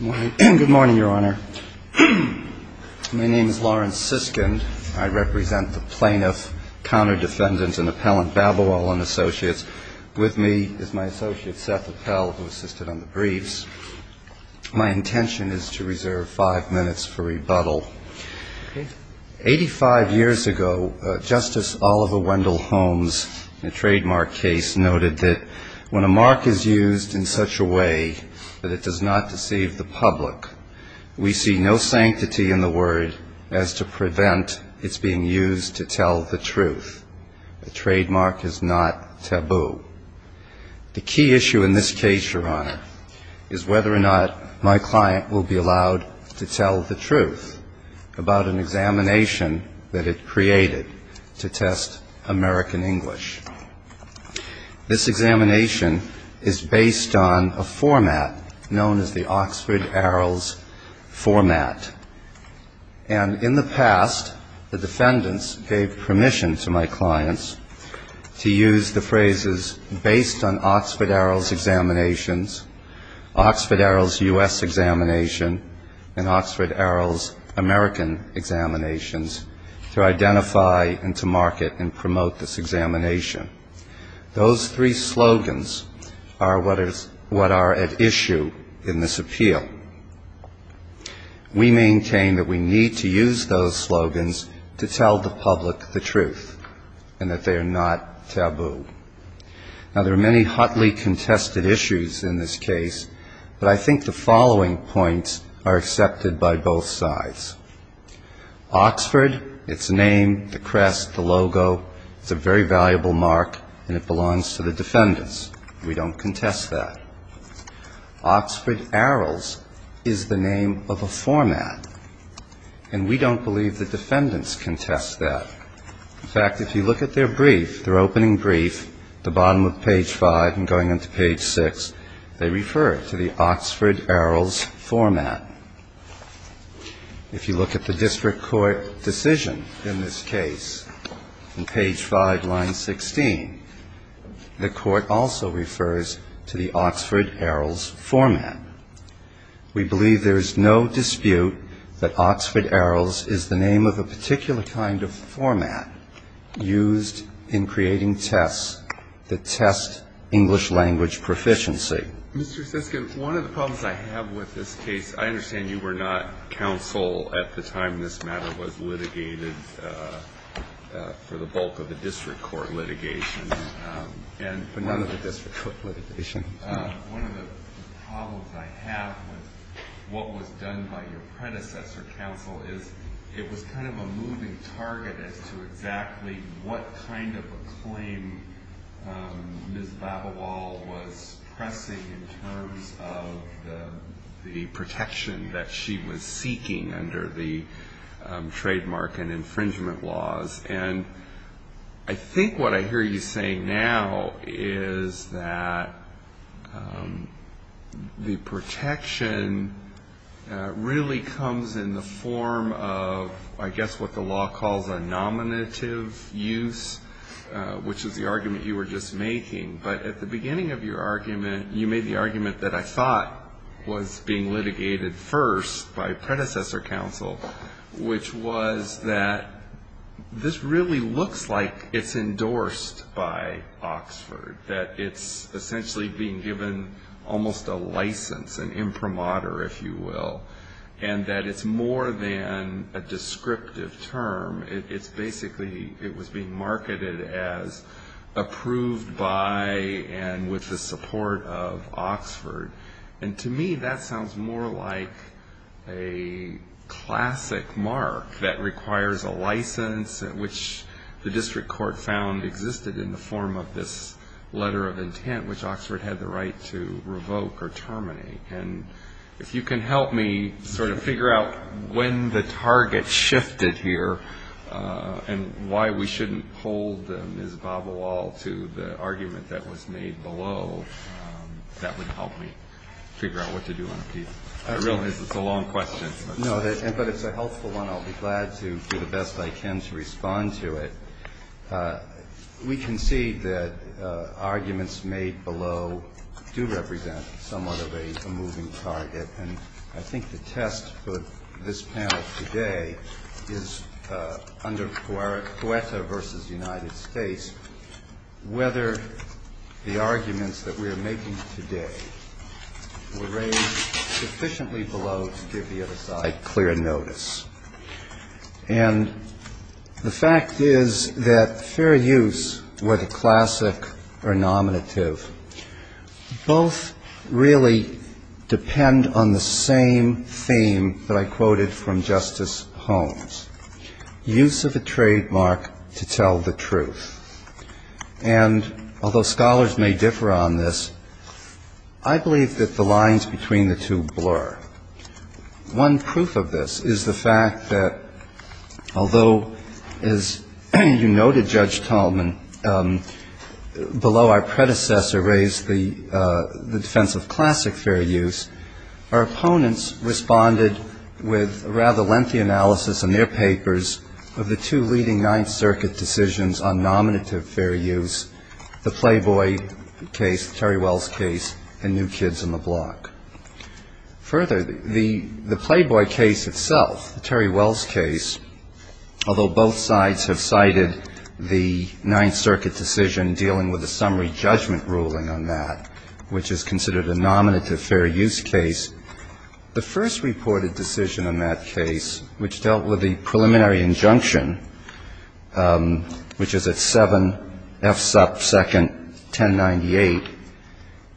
Good morning, Your Honor. My name is Lawrence Siskind. I represent the Plaintiff, Counter-Defendant, and Appellant Babowal & Associates. With me is my associate Seth Appell, who assisted on the briefs. My intention is to reserve five minutes for rebuttal. Eighty-five years ago, Justice Oliver Wendell Holmes, in a trademark case, noted that when a mark is used in such a way that it does not deceive the public, we see no sanctity in the word as to prevent its being used to tell the truth. The trademark is not taboo. The key issue in this case, Your Honor, is whether or not my client will be allowed to tell the truth about an examination that it created to test American English. This examination is based on a format known as the Oxford Arrows format. And in the past, the defendants gave permission to my clients to use the phrases, based on Oxford Arrows examinations, Oxford Arrows U.S. examination, and Oxford Arrows American examinations, to identify and to market and promote this examination. Those three slogans are what are at issue in this appeal. We maintain that we need to use those slogans to tell the public the truth and that they are not taboo. Now, there are many hotly contested issues in this case, but I think the following points are accepted by both sides. Oxford, its name, the crest, the logo, it's a very valuable mark, and it belongs to the defendants. We don't contest that. Oxford Arrows is the name of a format, and we don't believe the defendants contest that. In fact, if you look at their brief, their opening brief, at the bottom of page 5 and going into page 6, they refer to the Oxford Arrows format. If you look at the district court decision in this case, in page 5, line 16, the court also refers to the Oxford Arrows format. We believe there is no dispute that Oxford Arrows is the name of a particular kind of format used in creating tests that test English language proficiency. Mr. Siskin, one of the problems I have with this case, I understand you were not counsel at the time this matter was litigated for the bulk of the district court litigation, but not of the district court litigation. One of the problems I have with what was done by your predecessor counsel is it was kind of a moving target as to exactly what kind of a claim Ms. Babawal was pressing in terms of the protection that she was seeking under the trademark and infringement laws. And I think what I hear you saying now is that the protection really comes in the form of, I guess, what the law calls a nominative use, which is the argument you were just making. But at the beginning of your argument, you made the argument that I thought was being litigated first by predecessor counsel, which was that this really looks like it's endorsed by Oxford, that it's essentially being given almost a license, an imprimatur, if you will, and that it's more than a descriptive term. It's basically, it was being marketed as approved by and with the support of Oxford. And to me, that sounds more like a classic mark that requires a license, which the district court found existed in the form of this letter of intent, which Oxford had the right to revoke or terminate. And if you can help me sort of figure out when the target shifted here and why we shouldn't hold Ms. Babawal to the argument that was made below, that would help me figure out what to do on a piece. I realize it's a long question. No, but it's a helpful one. I'll be glad to do the best I can to respond to it. We can see that arguments made below do represent somewhat of a moving target. And I think the test for this panel today is under Guetta v. United States, whether the arguments that we are making today were raised sufficiently below to give the other side clear notice. And the fact is that fair use, whether classic or nominative, both really depend on the same theme that I quoted from Justice Holmes, use of a trademark to tell the truth. And although scholars may differ on this, I believe that the lines between the two blur. One proof of this is the fact that although, as you noted, Judge Tallman, below our predecessor raised the defense of classic fair use, our opponents responded with rather lengthy analysis in their papers of the two leading Ninth Circuit decisions on nominative fair use, the Playboy case, Terry Wells' case, and New Kids on the Block. Further, the Playboy case itself, the Terry Wells' case, although both sides have cited the Ninth Circuit decision dealing with a summary judgment ruling on that, which is considered a nominative fair use case, the first reported decision on that case, which dealt with the preliminary injunction, which is at 7F sub 2nd 1098.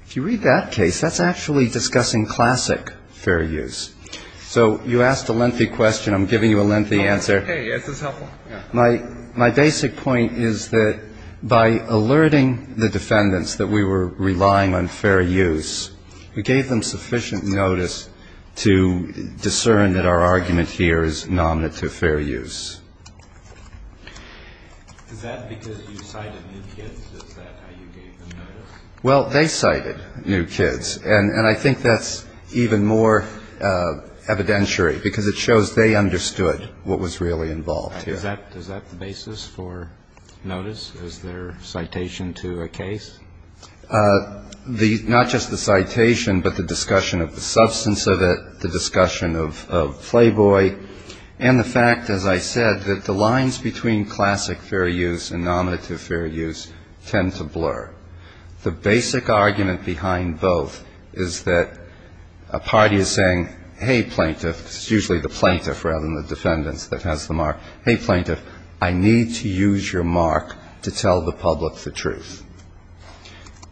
If you read that case, that's actually discussing classic fair use. So you asked a lengthy question. I'm giving you a lengthy answer. My basic point is that by alerting the defendants that we were relying on fair use, we gave them sufficient notice to discern that our argument here is nominative fair use. Is that because you cited New Kids? Is that how you gave them notice? Well, they cited New Kids. And I think that's even more evidentiary because it shows they understood what was really involved here. Is that the basis for notice? Is there citation to a case? Not just the citation, but the discussion of the substance of it, the discussion of Playboy, and the fact, as I said, that the lines between classic fair use and nominative fair use tend to blur. The basic argument behind both is that a party is saying, hey, plaintiff, it's usually the plaintiff rather than the defendants that has the mark, hey, plaintiff, I need to use your mark to tell the public the truth.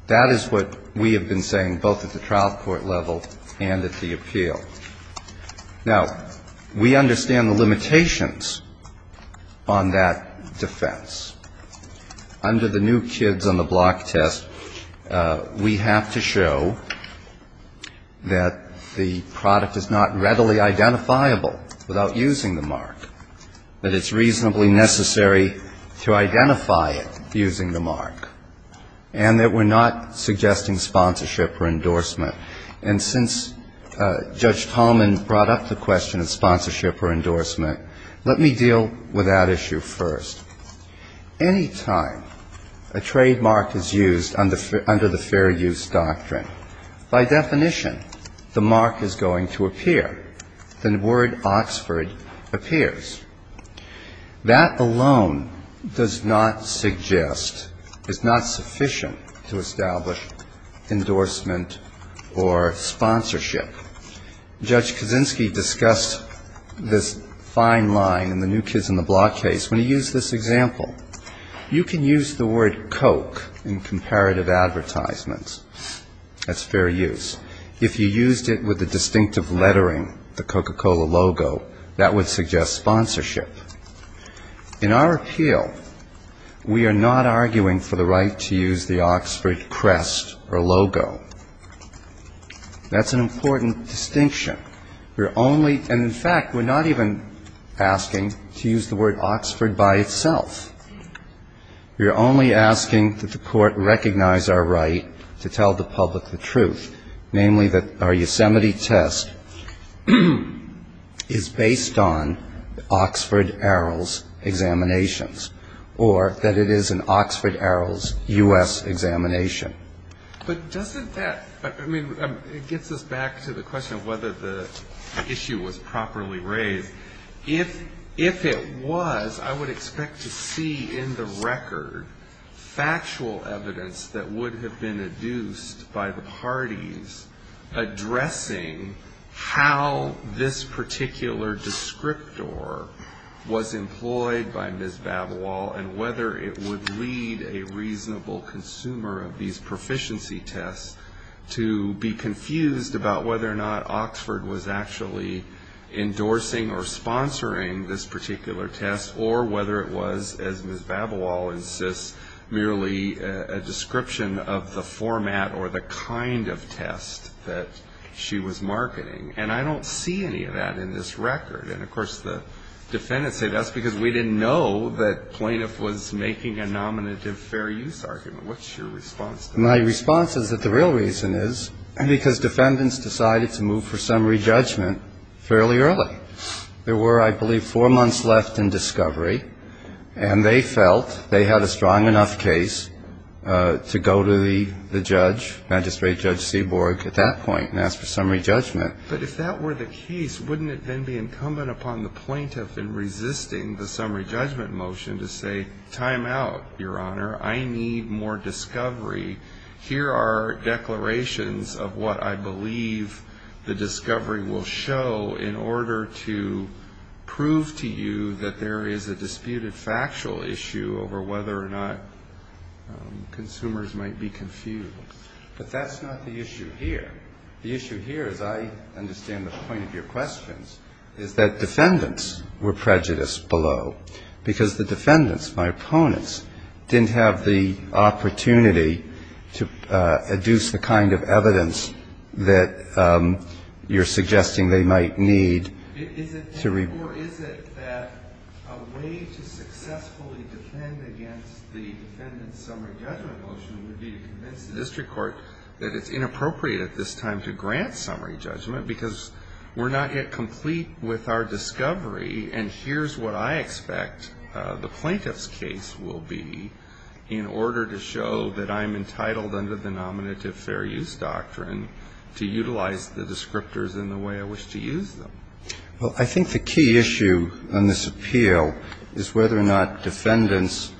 That is what we have been saying both at the trial court level and at the appeal. Now, we understand the limitations on that defense. Under the New Kids on the block test, we have to show that the product is not readily identifiable without using the mark, that it's reasonably necessary to identify it using the mark, and that we're not suggesting sponsorship or endorsement. And since Judge Tallman brought up the question of sponsorship or endorsement, let me deal with that issue first. Any time a trademark is used under the fair use doctrine, by definition the mark is going to appear. The word Oxford appears. That alone does not suggest, is not sufficient to establish endorsement or sponsorship. Judge Kaczynski discussed this fine line in the New Kids on the block case when he used this example. You can use the word Coke in comparative advertisements. That's fair use. If you used it with the distinctive lettering, the Coca-Cola logo, that would suggest sponsorship. In our appeal, we are not arguing for the right to use the Oxford crest or logo. That's an important distinction. We're only ñ and in fact, we're not even asking to use the word Oxford by itself. We're only asking that the Court recognize our right to tell the public the truth, namely that our Yosemite test is based on Oxford Arrows examinations, or that it is an Oxford Arrows U.S. examination. But doesn't that ñ I mean, it gets us back to the question of whether the issue was properly raised. If it was, I would expect to see in the record factual evidence that would have been adduced by the parties addressing how this particular descriptor was employed by Ms. Babawal and whether it would lead a reasonable consumer of these particular tests or whether it was, as Ms. Babawal insists, merely a description of the format or the kind of test that she was marketing. And I don't see any of that in this record. And of course, the defendants say that's because we didn't know that plaintiff was making a nominative fair use argument. What's your response to that? My response is that the real reason is because defendants decided to move for summary judgment fairly early. There were, I believe, four months left in discovery, and they felt they had a strong enough case to go to the judge, Magistrate Judge Seaborg, at that point and ask for summary judgment. But if that were the case, wouldn't it then be incumbent upon the plaintiff in resisting the summary judgment motion to say, time out, Your Honor, I need more discovery. Here are declarations of what I believe the discovery will show in order to prove to you that there is a disputed factual issue over whether or not consumers might be confused. But that's not the issue here. The issue here, as I understand the point of your questions, is that defendants were prejudiced below because the defendants, their opponents, didn't have the opportunity to adduce the kind of evidence that you're suggesting they might need to report. Or is it that a way to successfully defend against the defendant's summary judgment motion would be to convince the district court that it's inappropriate at this time to grant summary judgment because we're not yet complete with our discovery, and here's what I expect the plaintiff's case will be in order to show that I'm entitled under the Nominative Fair Use Doctrine to utilize the descriptors in the way I wish to use them? Well, I think the key issue on this appeal is whether or not defendants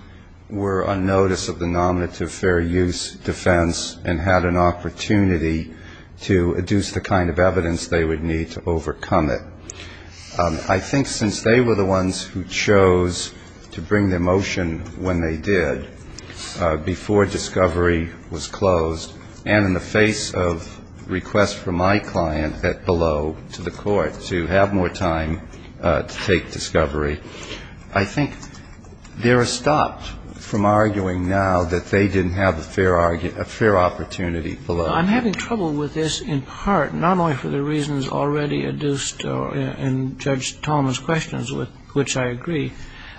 were on notice of the Nominative Fair Use defense and had an opportunity to adduce the kind of evidence they would need to overcome it. I think since they were the ones who chose to bring their motion when they did, before discovery was closed, and in the face of requests from my client that below to the court to have more time to take discovery, I think they're stopped from arguing now that they didn't have a fair opportunity below. I'm having trouble with this in part not only for the reasons already adduced in Judge Tolman's questions, which I agree.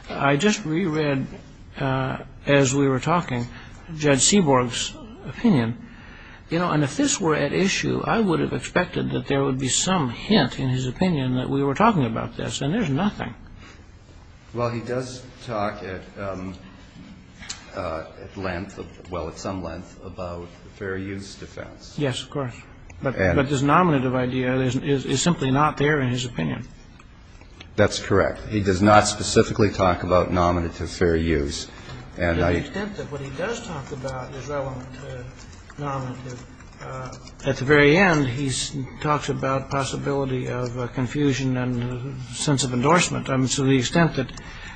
I just reread, as we were talking, Judge Seaborg's opinion. You know, and if this were at issue, I would have expected that there would be some hint in his opinion that we were talking about this, and there's nothing. Well, he does talk at length, well, at some length, about the Fair Use defense. Yes, of course. But this Nominative idea is simply not there in his opinion. That's correct. He does not specifically talk about Nominative Fair Use. And I think that what he does talk about is relevant to Nominative. At the very end, he talks about possibility of confusion and sense of endorsement. I mean, to the extent that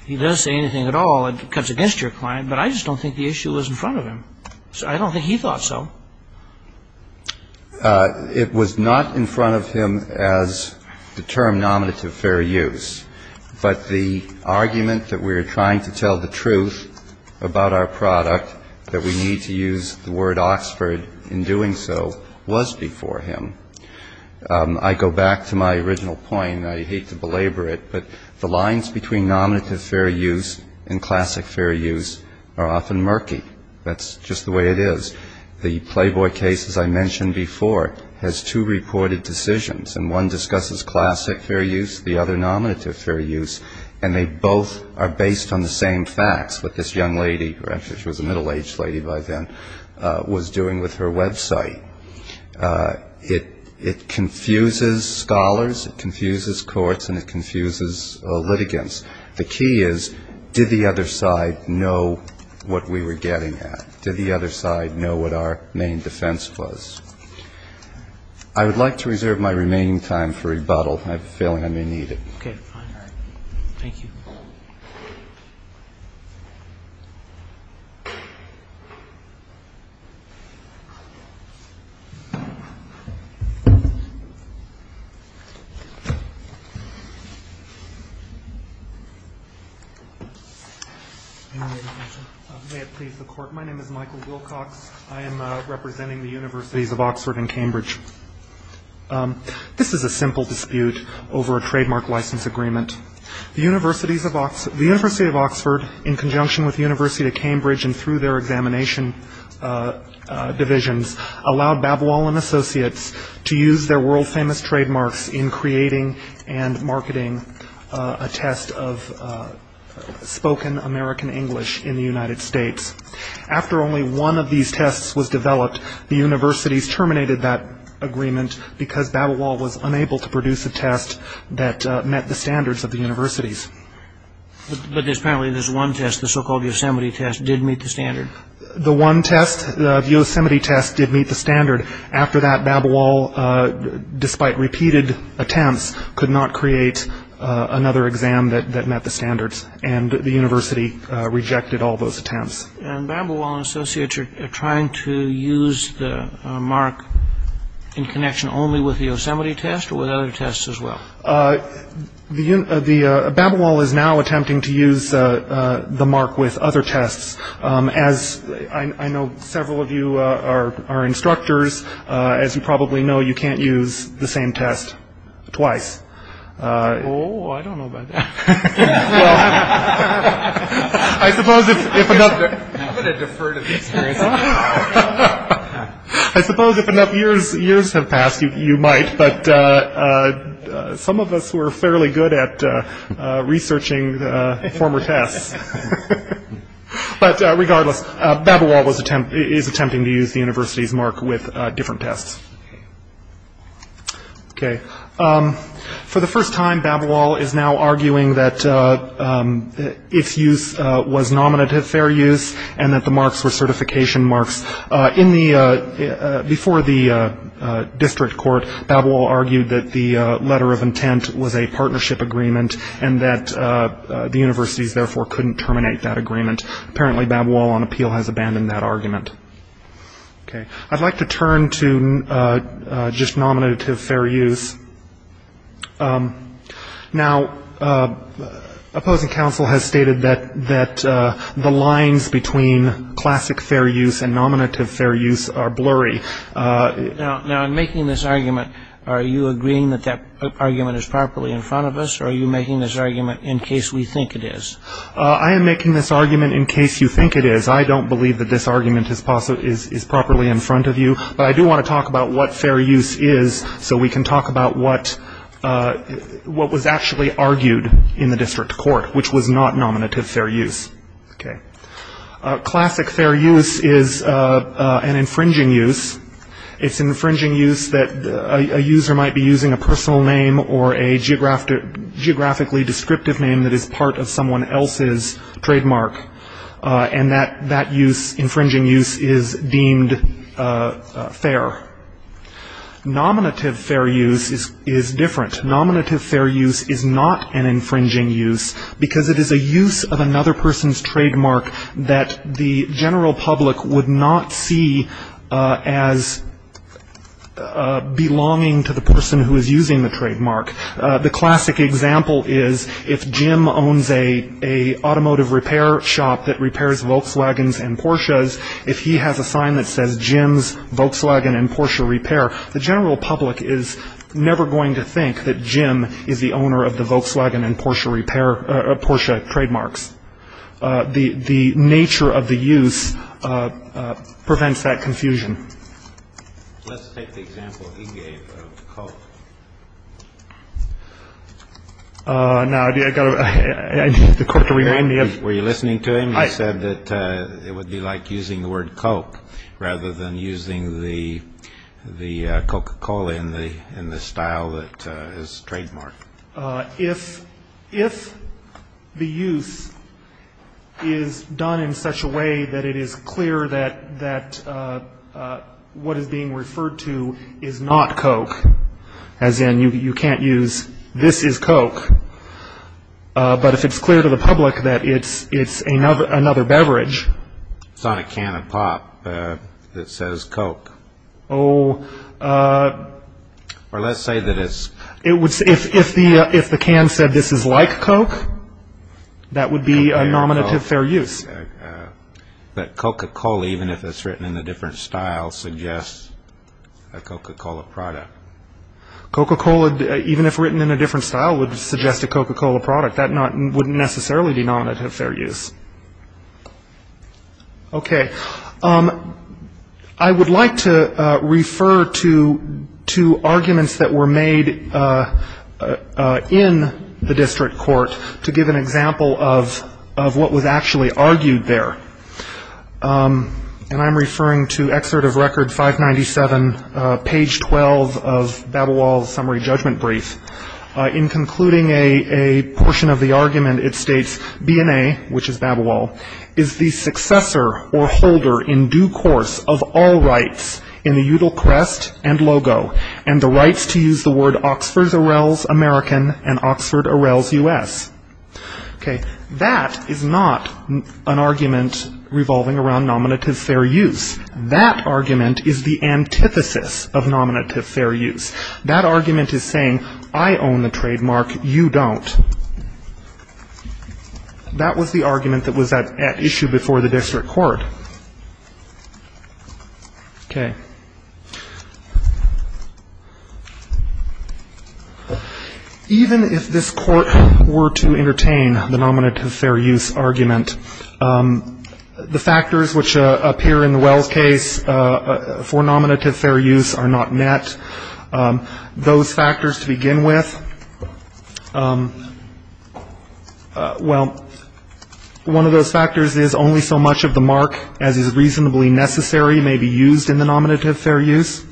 he does say anything at all, it cuts against your client. But I just don't think the issue was in front of him. I don't think he thought so. It was not in front of him as the term Nominative Fair Use. But the argument that we are trying to tell the truth about our product, that we need to use the word Oxford in doing so, was before him. I go back to my original point, and I hate to belabor it, but the lines between Nominative Fair Use and Classic Fair Use are often murky. That's just the way it is. The Playboy case, as I mentioned before, has two reported decisions. And one discusses Classic Fair Use, the other Nominative Fair Use, and they both are based on the same facts, what this young lady, which was a middle-aged lady by then, was doing with her website. It confuses scholars, it confuses courts, and it confuses litigants. The key is, did the other side know what we were getting at? Did the other side know what our main defense was? I would like to reserve my remaining time for rebuttal. I have a feeling I may need it. Okay. Fine. All right. Thank you. May it please the Court. My name is Michael Wilcox. I am representing the Universities of Oxford and Cambridge. This is a simple dispute over a trademark license agreement. The University of Oxford, in conjunction with the University of Cambridge and through their examination divisions, allowed Babwell & Associates to use their world-famous trademarks in creating and marketing a test of spoken American English in the United States. After only one of these tests was developed, the universities terminated that agreement because Babowal was unable to produce a test that met the standards of the universities. But apparently this one test, the so-called Yosemite test, did meet the standard. The one test, the Yosemite test, did meet the standard. After that, Babowal, despite repeated attempts, could not create another exam that met the standards, and the university rejected all those attempts. And Babowal & Associates are trying to use the mark in connection only with the Yosemite test or with other tests as well? Babowal is now attempting to use the mark with other tests. As I know several of you are instructors, as you probably know, you can't use the same test twice. Oh, I don't know about that. Well, I suppose if enough years have passed, you might, but some of us were fairly good at researching former tests. But regardless, Babowal is attempting to use the university's mark with different tests. Okay. For the first time, Babowal is now arguing that its use was nominative fair use and that the marks were certification marks. Before the district court, Babowal argued that the letter of intent was a partnership agreement and that the universities, therefore, couldn't terminate that agreement. Apparently Babowal, on appeal, has abandoned that argument. Okay. I'd like to turn to just nominative fair use. Now, opposing counsel has stated that the lines between classic fair use and nominative fair use are blurry. Now, in making this argument, are you agreeing that that argument is properly in front of us, or are you making this argument in case we think it is? I am making this argument in case you think it is. I don't believe that this argument is properly in front of you, but I do want to talk about what fair use is so we can talk about what was actually argued in the district court, which was not nominative fair use. Okay. Classic fair use is an infringing use. It's an infringing use that a user might be using a personal name or a geographically descriptive name that is part of someone else's trademark, and that use, infringing use, is deemed fair. Nominative fair use is different. Nominative fair use is not an infringing use because it is a use of another person's trademark that the general public would not see as belonging to the person who is using the trademark. The classic example is if Jim owns an automotive repair shop that repairs Volkswagens and Porsches, if he has a sign that says Jim's Volkswagen and Porsche repair, the general public is never going to think that Jim is the owner of the Volkswagen and Porsche repair, Porsche trademarks. The nature of the use prevents that confusion. Let's take the example he gave of Coke. Now, I've got to get the clerk to remind me. Were you listening to him? He said that it would be like using the word Coke rather than using the Coca-Cola in the style that is trademark. If the use is done in such a way that it is clear that what is being referred to is not Coke, as in you can't use this is Coke, but if it's clear to the public that it's another beverage. It's not a can of pop that says Coke. Oh. Or let's say that it's... If the can said this is like Coke, that would be a nominative fair use. But Coca-Cola, even if it's written in a different style, suggests a Coca-Cola product. Coca-Cola, even if written in a different style, would suggest a Coca-Cola product. That wouldn't necessarily be nominative fair use. Okay. I would like to refer to arguments that were made in the district court to give an example of what was actually argued there. And I'm referring to Excerpt of Record 597, page 12 of Babelwald's summary judgment brief. In concluding a portion of the argument, it states, BNA, which is Babelwald, is the successor or holder in due course of all rights in the Udall Crest and LOGO, and the rights to use the word Oxford Arrels American and Oxford Arrels U.S. Okay. That is not an argument revolving around nominative fair use. That argument is the antithesis of nominative fair use. That argument is saying, I own the trademark, you don't. That was the argument that was at issue before the district court. Okay. Even if this court were to entertain the nominative fair use argument, the factors which appear in the Wells case for nominative fair use are not met. Those factors to begin with, well, one of those factors is only so much of the mark as is reasonably necessary may be used in the nominative fair use.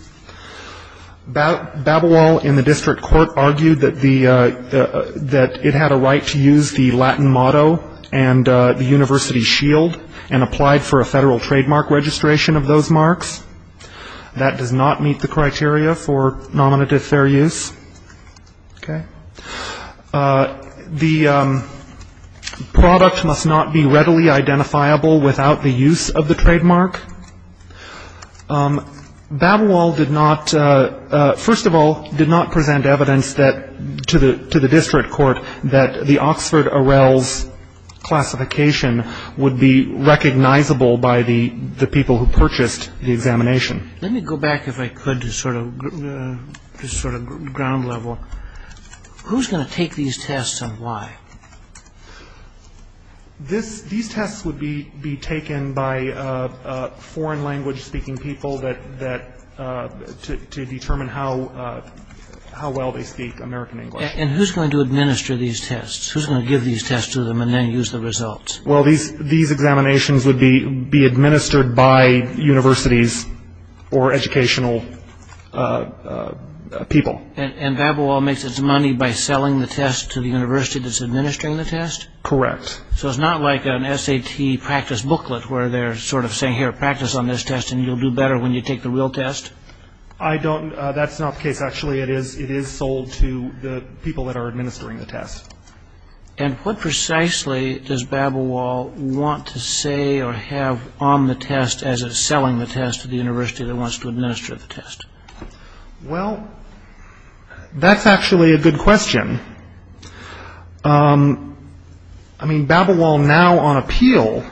Babelwald in the district court argued that it had a right to use the Latin motto and the university shield and applied for a federal trademark registration of those marks. That does not meet the criteria for nominative fair use. Okay. The product must not be readily identifiable without the use of the trademark. Babelwald did not, first of all, did not present evidence to the district court that the Oxford-Arells classification would be recognizable by the people who purchased the examination. Let me go back, if I could, to sort of ground level. Who's going to take these tests and why? These tests would be taken by foreign language speaking people to determine how well they speak American English. And who's going to administer these tests? Who's going to give these tests to them and then use the results? Well, these examinations would be administered by universities or educational people. And Babelwald makes its money by selling the test to the university that's administering the test? Correct. So it's not like an SAT practice booklet where they're sort of saying, here, practice on this test and you'll do better when you take the real test? I don't. That's not the case, actually. It is sold to the people that are administering the test. And what precisely does Babelwald want to say or have on the test as it's selling the test to the university that wants to administer the test? Well, that's actually a good question. I mean, Babelwald now on appeal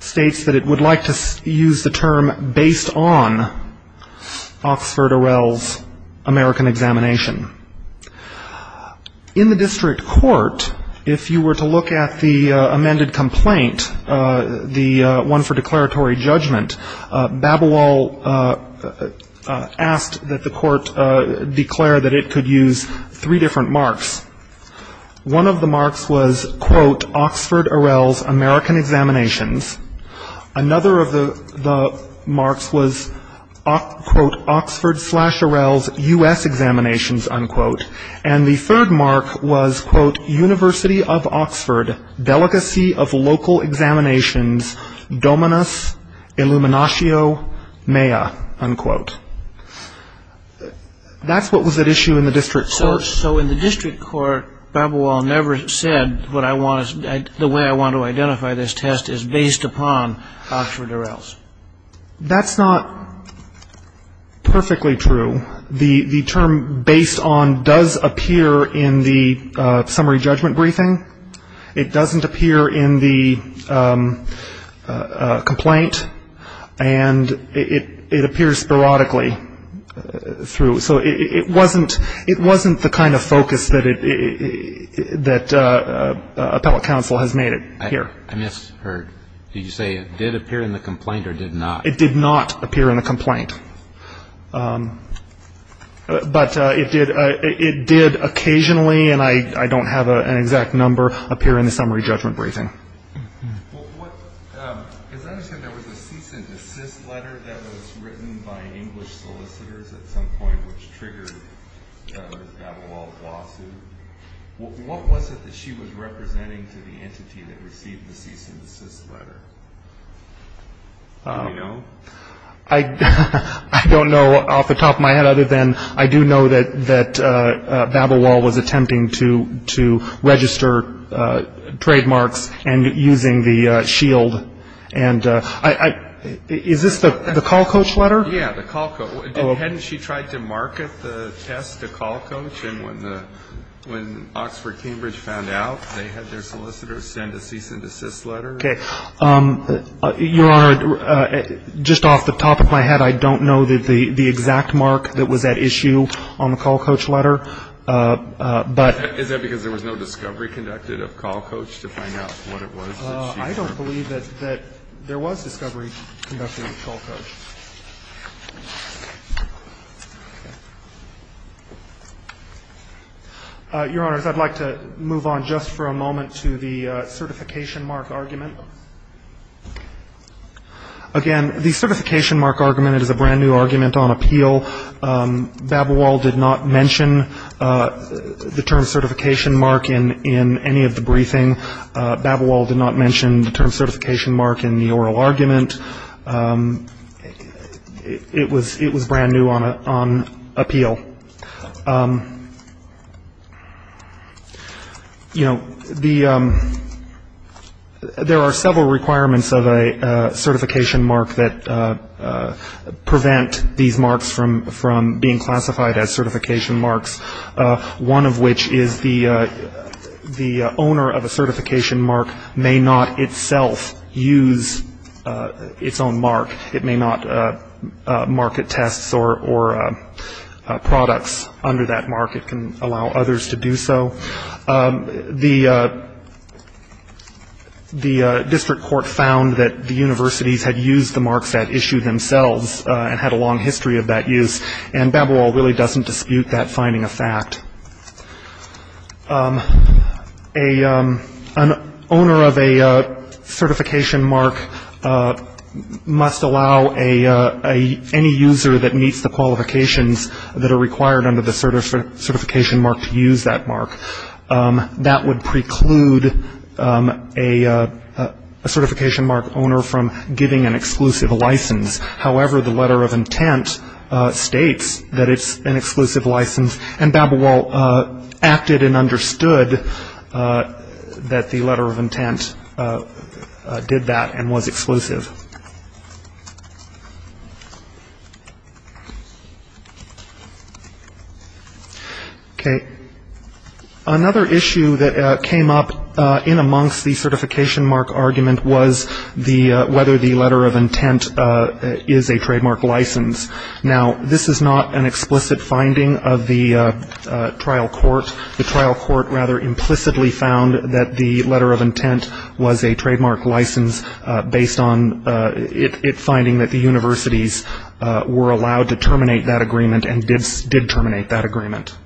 states that it would like to use the term based on Oxford Orwell's American examination. In the district court, if you were to look at the amended complaint, the one for declaratory judgment, Babelwald asked that the court declare that it could use three different marks. One of the marks was, quote, Oxford Orwell's American examinations. Another of the marks was, quote, Oxford slash Orwell's U.S. examinations, unquote. And the third mark was, quote, University of Oxford, delicacy of local examinations, dominus illuminatio mea, unquote. That's what was at issue in the district court. So in the district court, Babelwald never said the way I want to identify this test is based upon Oxford Orwell's. That's not perfectly true. The term based on does appear in the summary judgment briefing. It doesn't appear in the complaint. And it appears sporadically through. So it wasn't the kind of focus that appellate counsel has made it here. I misheard. Did you say it did appear in the complaint or did not? It did not appear in the complaint. But it did occasionally, and I don't have an exact number, appear in the summary judgment briefing. As I understand, there was a cease and desist letter that was written by English solicitors at some point, What was it that she was representing to the entity that received the cease and desist letter? Do you know? I don't know off the top of my head other than I do know that Babelwald was attempting to register trademarks and using the shield. And is this the call coach letter? Yeah, the call coach. Hadn't she tried to market the test to call coach? And when the, when Oxford Cambridge found out, they had their solicitors send a cease and desist letter? Okay. Your Honor, just off the top of my head, I don't know the exact mark that was at issue on the call coach letter. But. Is that because there was no discovery conducted of call coach to find out what it was? I don't believe that there was discovery conducted of call coach. Your Honors, I'd like to move on just for a moment to the certification mark argument. Again, the certification mark argument is a brand new argument on appeal. Babelwald did not mention the term certification mark in any of the briefing. Babelwald did not mention the term certification mark in the oral argument. It was brand new on appeal. You know, the, there are several requirements of a certification mark that prevent these marks from being classified as certification marks. One of which is the owner of a certification mark may not itself use its own mark. It may not market tests or products under that mark. It can allow others to do so. The district court found that the universities had used the marks at issue themselves and had a long history of that use. And Babelwald really doesn't dispute that finding a fact. An owner of a certification mark must allow any user that meets the qualifications that are required under the certification mark to use that mark. That would preclude a certification mark owner from giving an exclusive license. However, the letter of intent states that it's an exclusive license. And Babelwald acted and understood that the letter of intent did that and was exclusive. Okay. Another issue that came up in amongst the certification mark argument was the, whether the letter of intent is a trademark license. Now, this is not an explicit finding of the trial court. The trial court rather implicitly found that the letter of intent was a trademark license based on it finding that the universities were allowed to terminate that agreement and did terminate that agreement.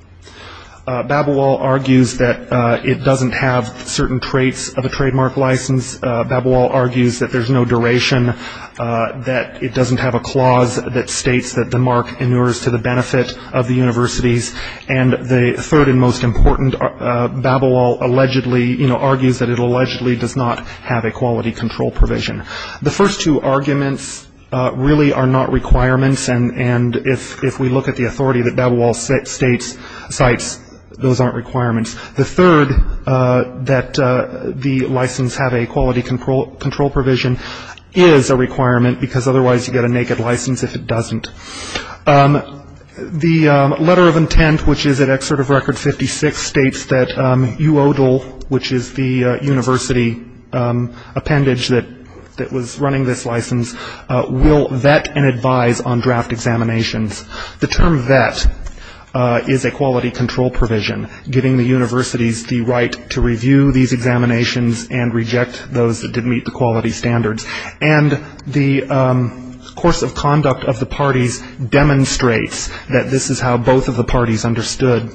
Babelwald argues that it doesn't have certain traits of a trademark license. Babelwald argues that there's no duration, that it doesn't have a clause that states that the mark inures to the benefit of the universities. And the third and most important, Babelwald allegedly, you know, argues that it allegedly does not have a quality control provision. The first two arguments really are not requirements. And if we look at the authority that Babelwald states, those aren't requirements. The third, that the license have a quality control provision is a requirement because otherwise you get a naked license if it doesn't. The letter of intent, which is at Excerpt of Record 56, states that UODL, which is the university appendage that was running this license, will vet and advise on draft examinations. The term vet is a quality control provision, giving the universities the right to review these examinations and reject those that didn't meet the quality standards. And the course of conduct of the parties demonstrates that this is how both of the parties understood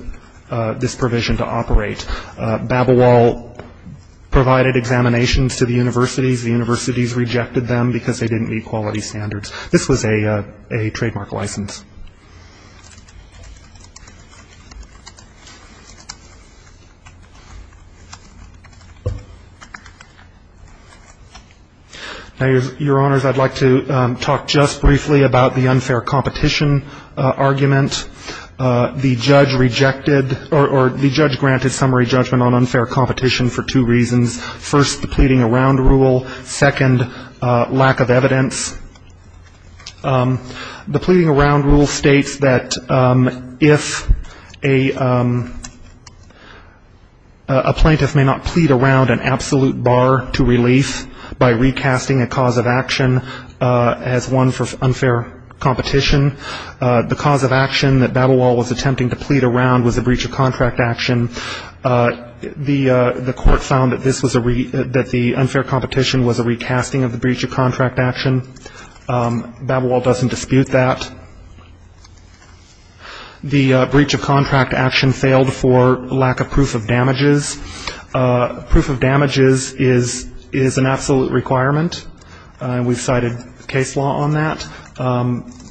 this provision to operate. Babelwald provided examinations to the universities. The universities rejected them because they didn't meet quality standards. This was a trademark license. Your Honors, I'd like to talk just briefly about the unfair competition argument. The judge rejected or the judge granted summary judgment on unfair competition for two reasons. First, the pleading around rule. Second, lack of evidence. The pleading around rule states that if a plaintiff may not plead around an absolute bar to relief by recasting a cause of action as one for unfair competition, the cause of action that Babelwald was attempting to plead around was a breach of contract action. The court found that the unfair competition was a recasting of the breach of contract action. Babelwald doesn't dispute that. The breach of contract action failed for lack of proof of damages. Proof of damages is an absolute requirement. We've cited case law on that.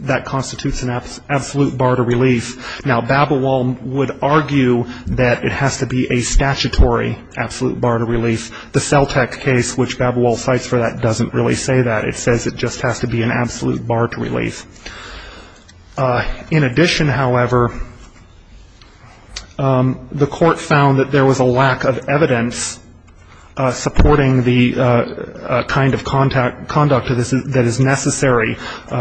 That constitutes an absolute bar to relief. Now, Babelwald would argue that it has to be a statutory absolute bar to relief. The Celtech case, which Babelwald cites for that, doesn't really say that. It says it just has to be an absolute bar to relief. In addition, however, the court found that there was a lack of evidence supporting the kind of conduct that is necessary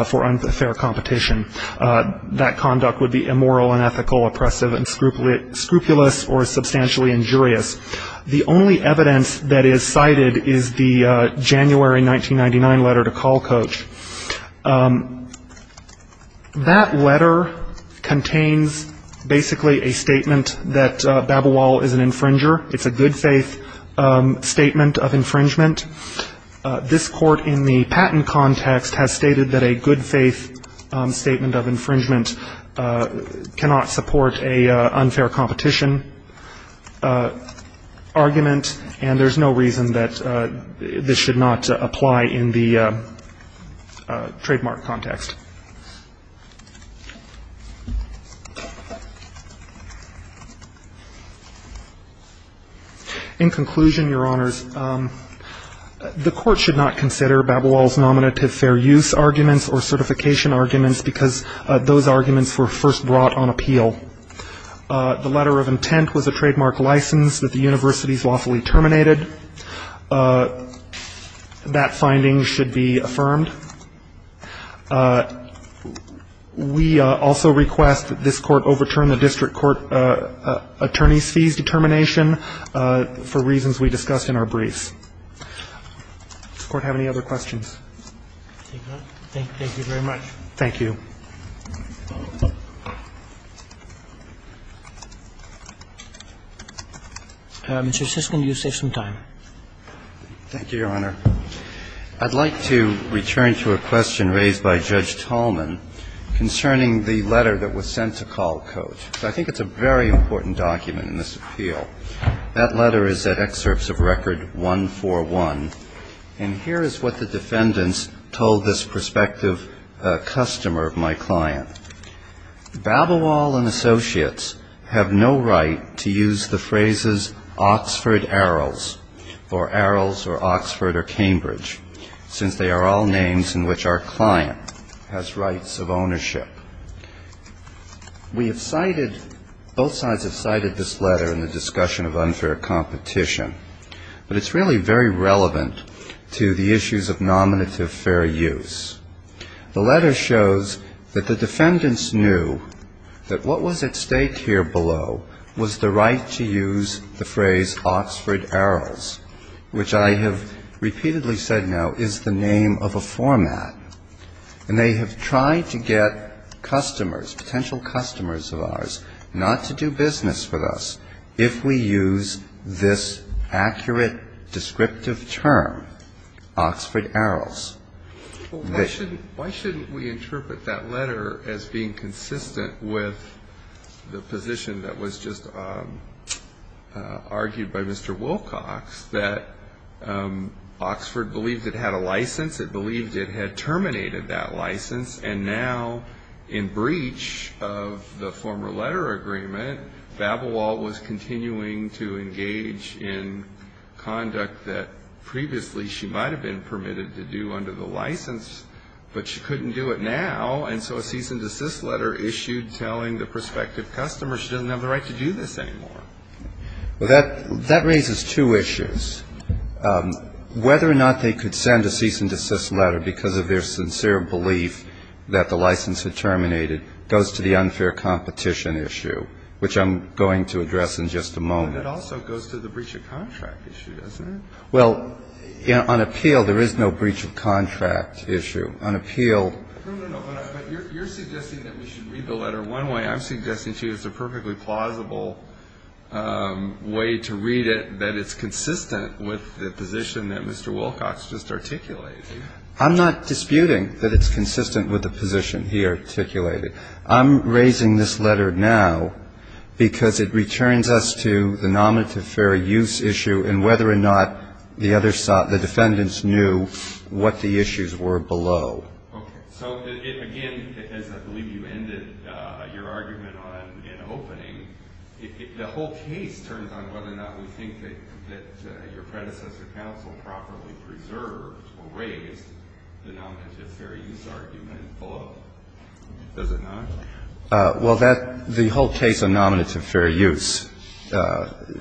for unfair competition. That conduct would be immoral, unethical, oppressive, and scrupulous or substantially injurious. The only evidence that is cited is the January 1999 letter to Kalkoetsch. That letter contains basically a statement that Babelwald is an infringer. It's a good-faith statement of infringement. This Court in the patent context has stated that a good-faith statement of infringement cannot support an unfair competition argument, and there's no reason that this should not apply in the trademark context. In conclusion, Your Honors, the Court should not consider Babelwald's nominative fair use arguments or certification arguments because those arguments were first brought on appeal. The letter of intent was a trademark license that the universities lawfully terminated. That finding should be affirmed. We also request that this Court overturn the district court attorney's fees determination for reasons we discussed in our briefs. Does the Court have any other questions? Thank you very much. Thank you. Mr. Siskind, you have some time. Thank you, Your Honor. I'd like to return to a question raised by Judge Tallman concerning the letter that was sent to Kalkoetsch. I think it's a very important document in this appeal. That letter is at Excerpts of Record 141, and here is what the defendants told this prospective customer of my client. Babelwald and Associates have no right to use the phrases Oxford Arrows or Arrows or Oxford or Cambridge, since they are all names in which our client has rights of ownership. We have cited, both sides have cited this letter in the discussion of unfair competition, but it's really very relevant to the issues of nominative fair use. The letter shows that the defendants knew that what was at stake here below was the right to use the phrase Oxford Arrows, which I have repeatedly said now is the name of a format. And they have tried to get customers, potential customers of ours, not to do business with us if we use this accurate descriptive term, Oxford Arrows. Why shouldn't we interpret that letter as being consistent with the position that was just argued by Mr. Wilcox that Oxford believed it had a license, it believed it had terminated that license, and now in breach of the former letter agreement, Babelwald was continuing to engage in conduct that previously she might have been permitted to do under the license, but she couldn't do it now, and so a cease and desist letter issued telling the prospective customer she doesn't have the right to do this anymore. Well, that raises two issues. Whether or not they could send a cease and desist letter because of their sincere belief that the license had terminated goes to the unfair competition issue, which I'm going to address in just a moment. But it also goes to the breach of contract issue, doesn't it? Well, on appeal, there is no breach of contract issue. On appeal... No, no, no, but you're suggesting that we should read the letter one way. I'm suggesting to you it's a perfectly plausible way to read it, that it's consistent with the position that Mr. Wilcox just articulated. I'm not disputing that it's consistent with the position he articulated. I'm raising this letter now because it returns us to the nominative fair use issue and whether or not the defendants knew what the issues were below. Okay. So, again, as I believe you ended your argument on an opening, the whole case turns on whether or not we think that your predecessor counsel properly preserved or raised the nominative fair use argument below. Does it not? Well, the whole case on nominative fair use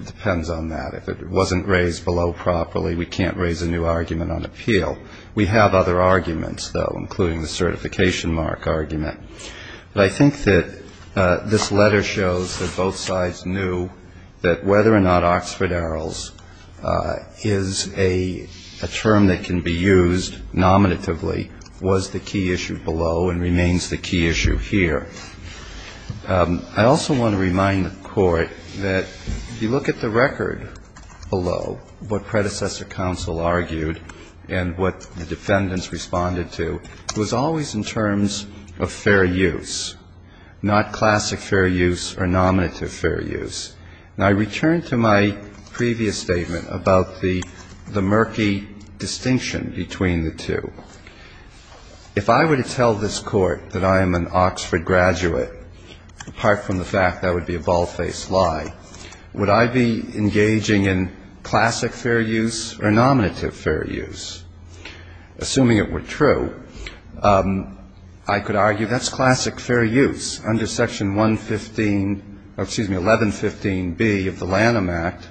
depends on that. If it wasn't raised below properly, we can't raise a new argument on appeal. We have other arguments, though, including the certification mark argument. But I think that this letter shows that both sides knew that whether or not Oxford-Arrows is a term that can be used nominatively was the key issue below and remains the key issue here. I also want to remind the Court that if you look at the record below, what predecessor counsel argued and what the defendants responded to, it was always in terms of fair use, not classic fair use or nominative fair use. Now, I return to my previous statement about the murky distinction between the two. If I were to tell this Court that I am an Oxford graduate, apart from the fact that would be a bald-faced lie, would I be engaging in classic fair use or nominative fair use? Assuming it were true, I could argue that's classic fair use. Under Section 115B of the Lanham Act,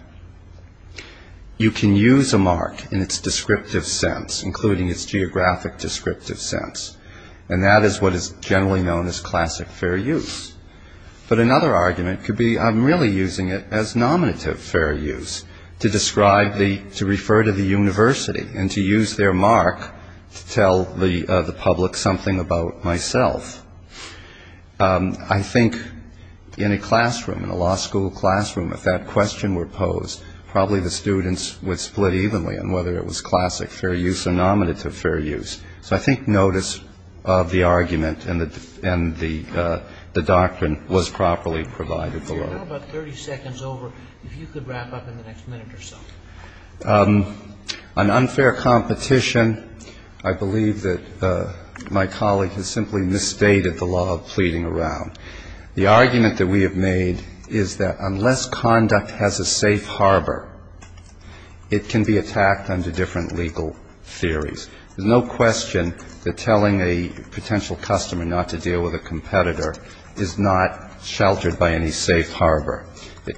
you can use a mark in its descriptive sense, including its geographic descriptive sense. And that is what is generally known as classic fair use. But another argument could be I'm really using it as nominative fair use to describe the, to refer to the university and to use their mark to tell the public something about myself. I think in a classroom, in a law school classroom, if that question were posed, probably the students would split evenly on whether it was classic fair use or nominative fair use. So I think notice of the argument and the doctrine was properly provided below. I believe that my colleague has simply misstated the law of pleading around. The argument that we have made is that unless conduct has a safe harbor, it can be attacked under different legal theories. There's no question that telling a potential customer not to deal with a competitor is not sheltered by any safe harbor.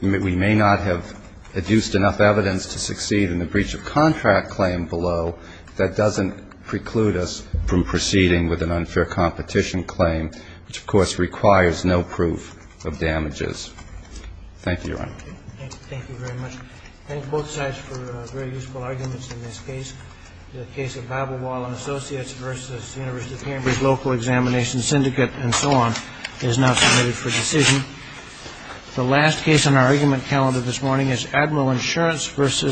We may not have adduced enough evidence to succeed in the breach of contract claim below. That doesn't preclude us from proceeding with an unfair competition claim, which, of course, requires no proof of damages. Thank you, Your Honor. Thank you very much. Thank both sides for very useful arguments in this case. The case of Babblewall and Associates v. University of Cambridge Local Examination Syndicate and so on is now submitted for decision. The last case on our argument calendar this morning is Admiral Insurance v.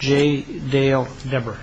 J. Dale Debrer.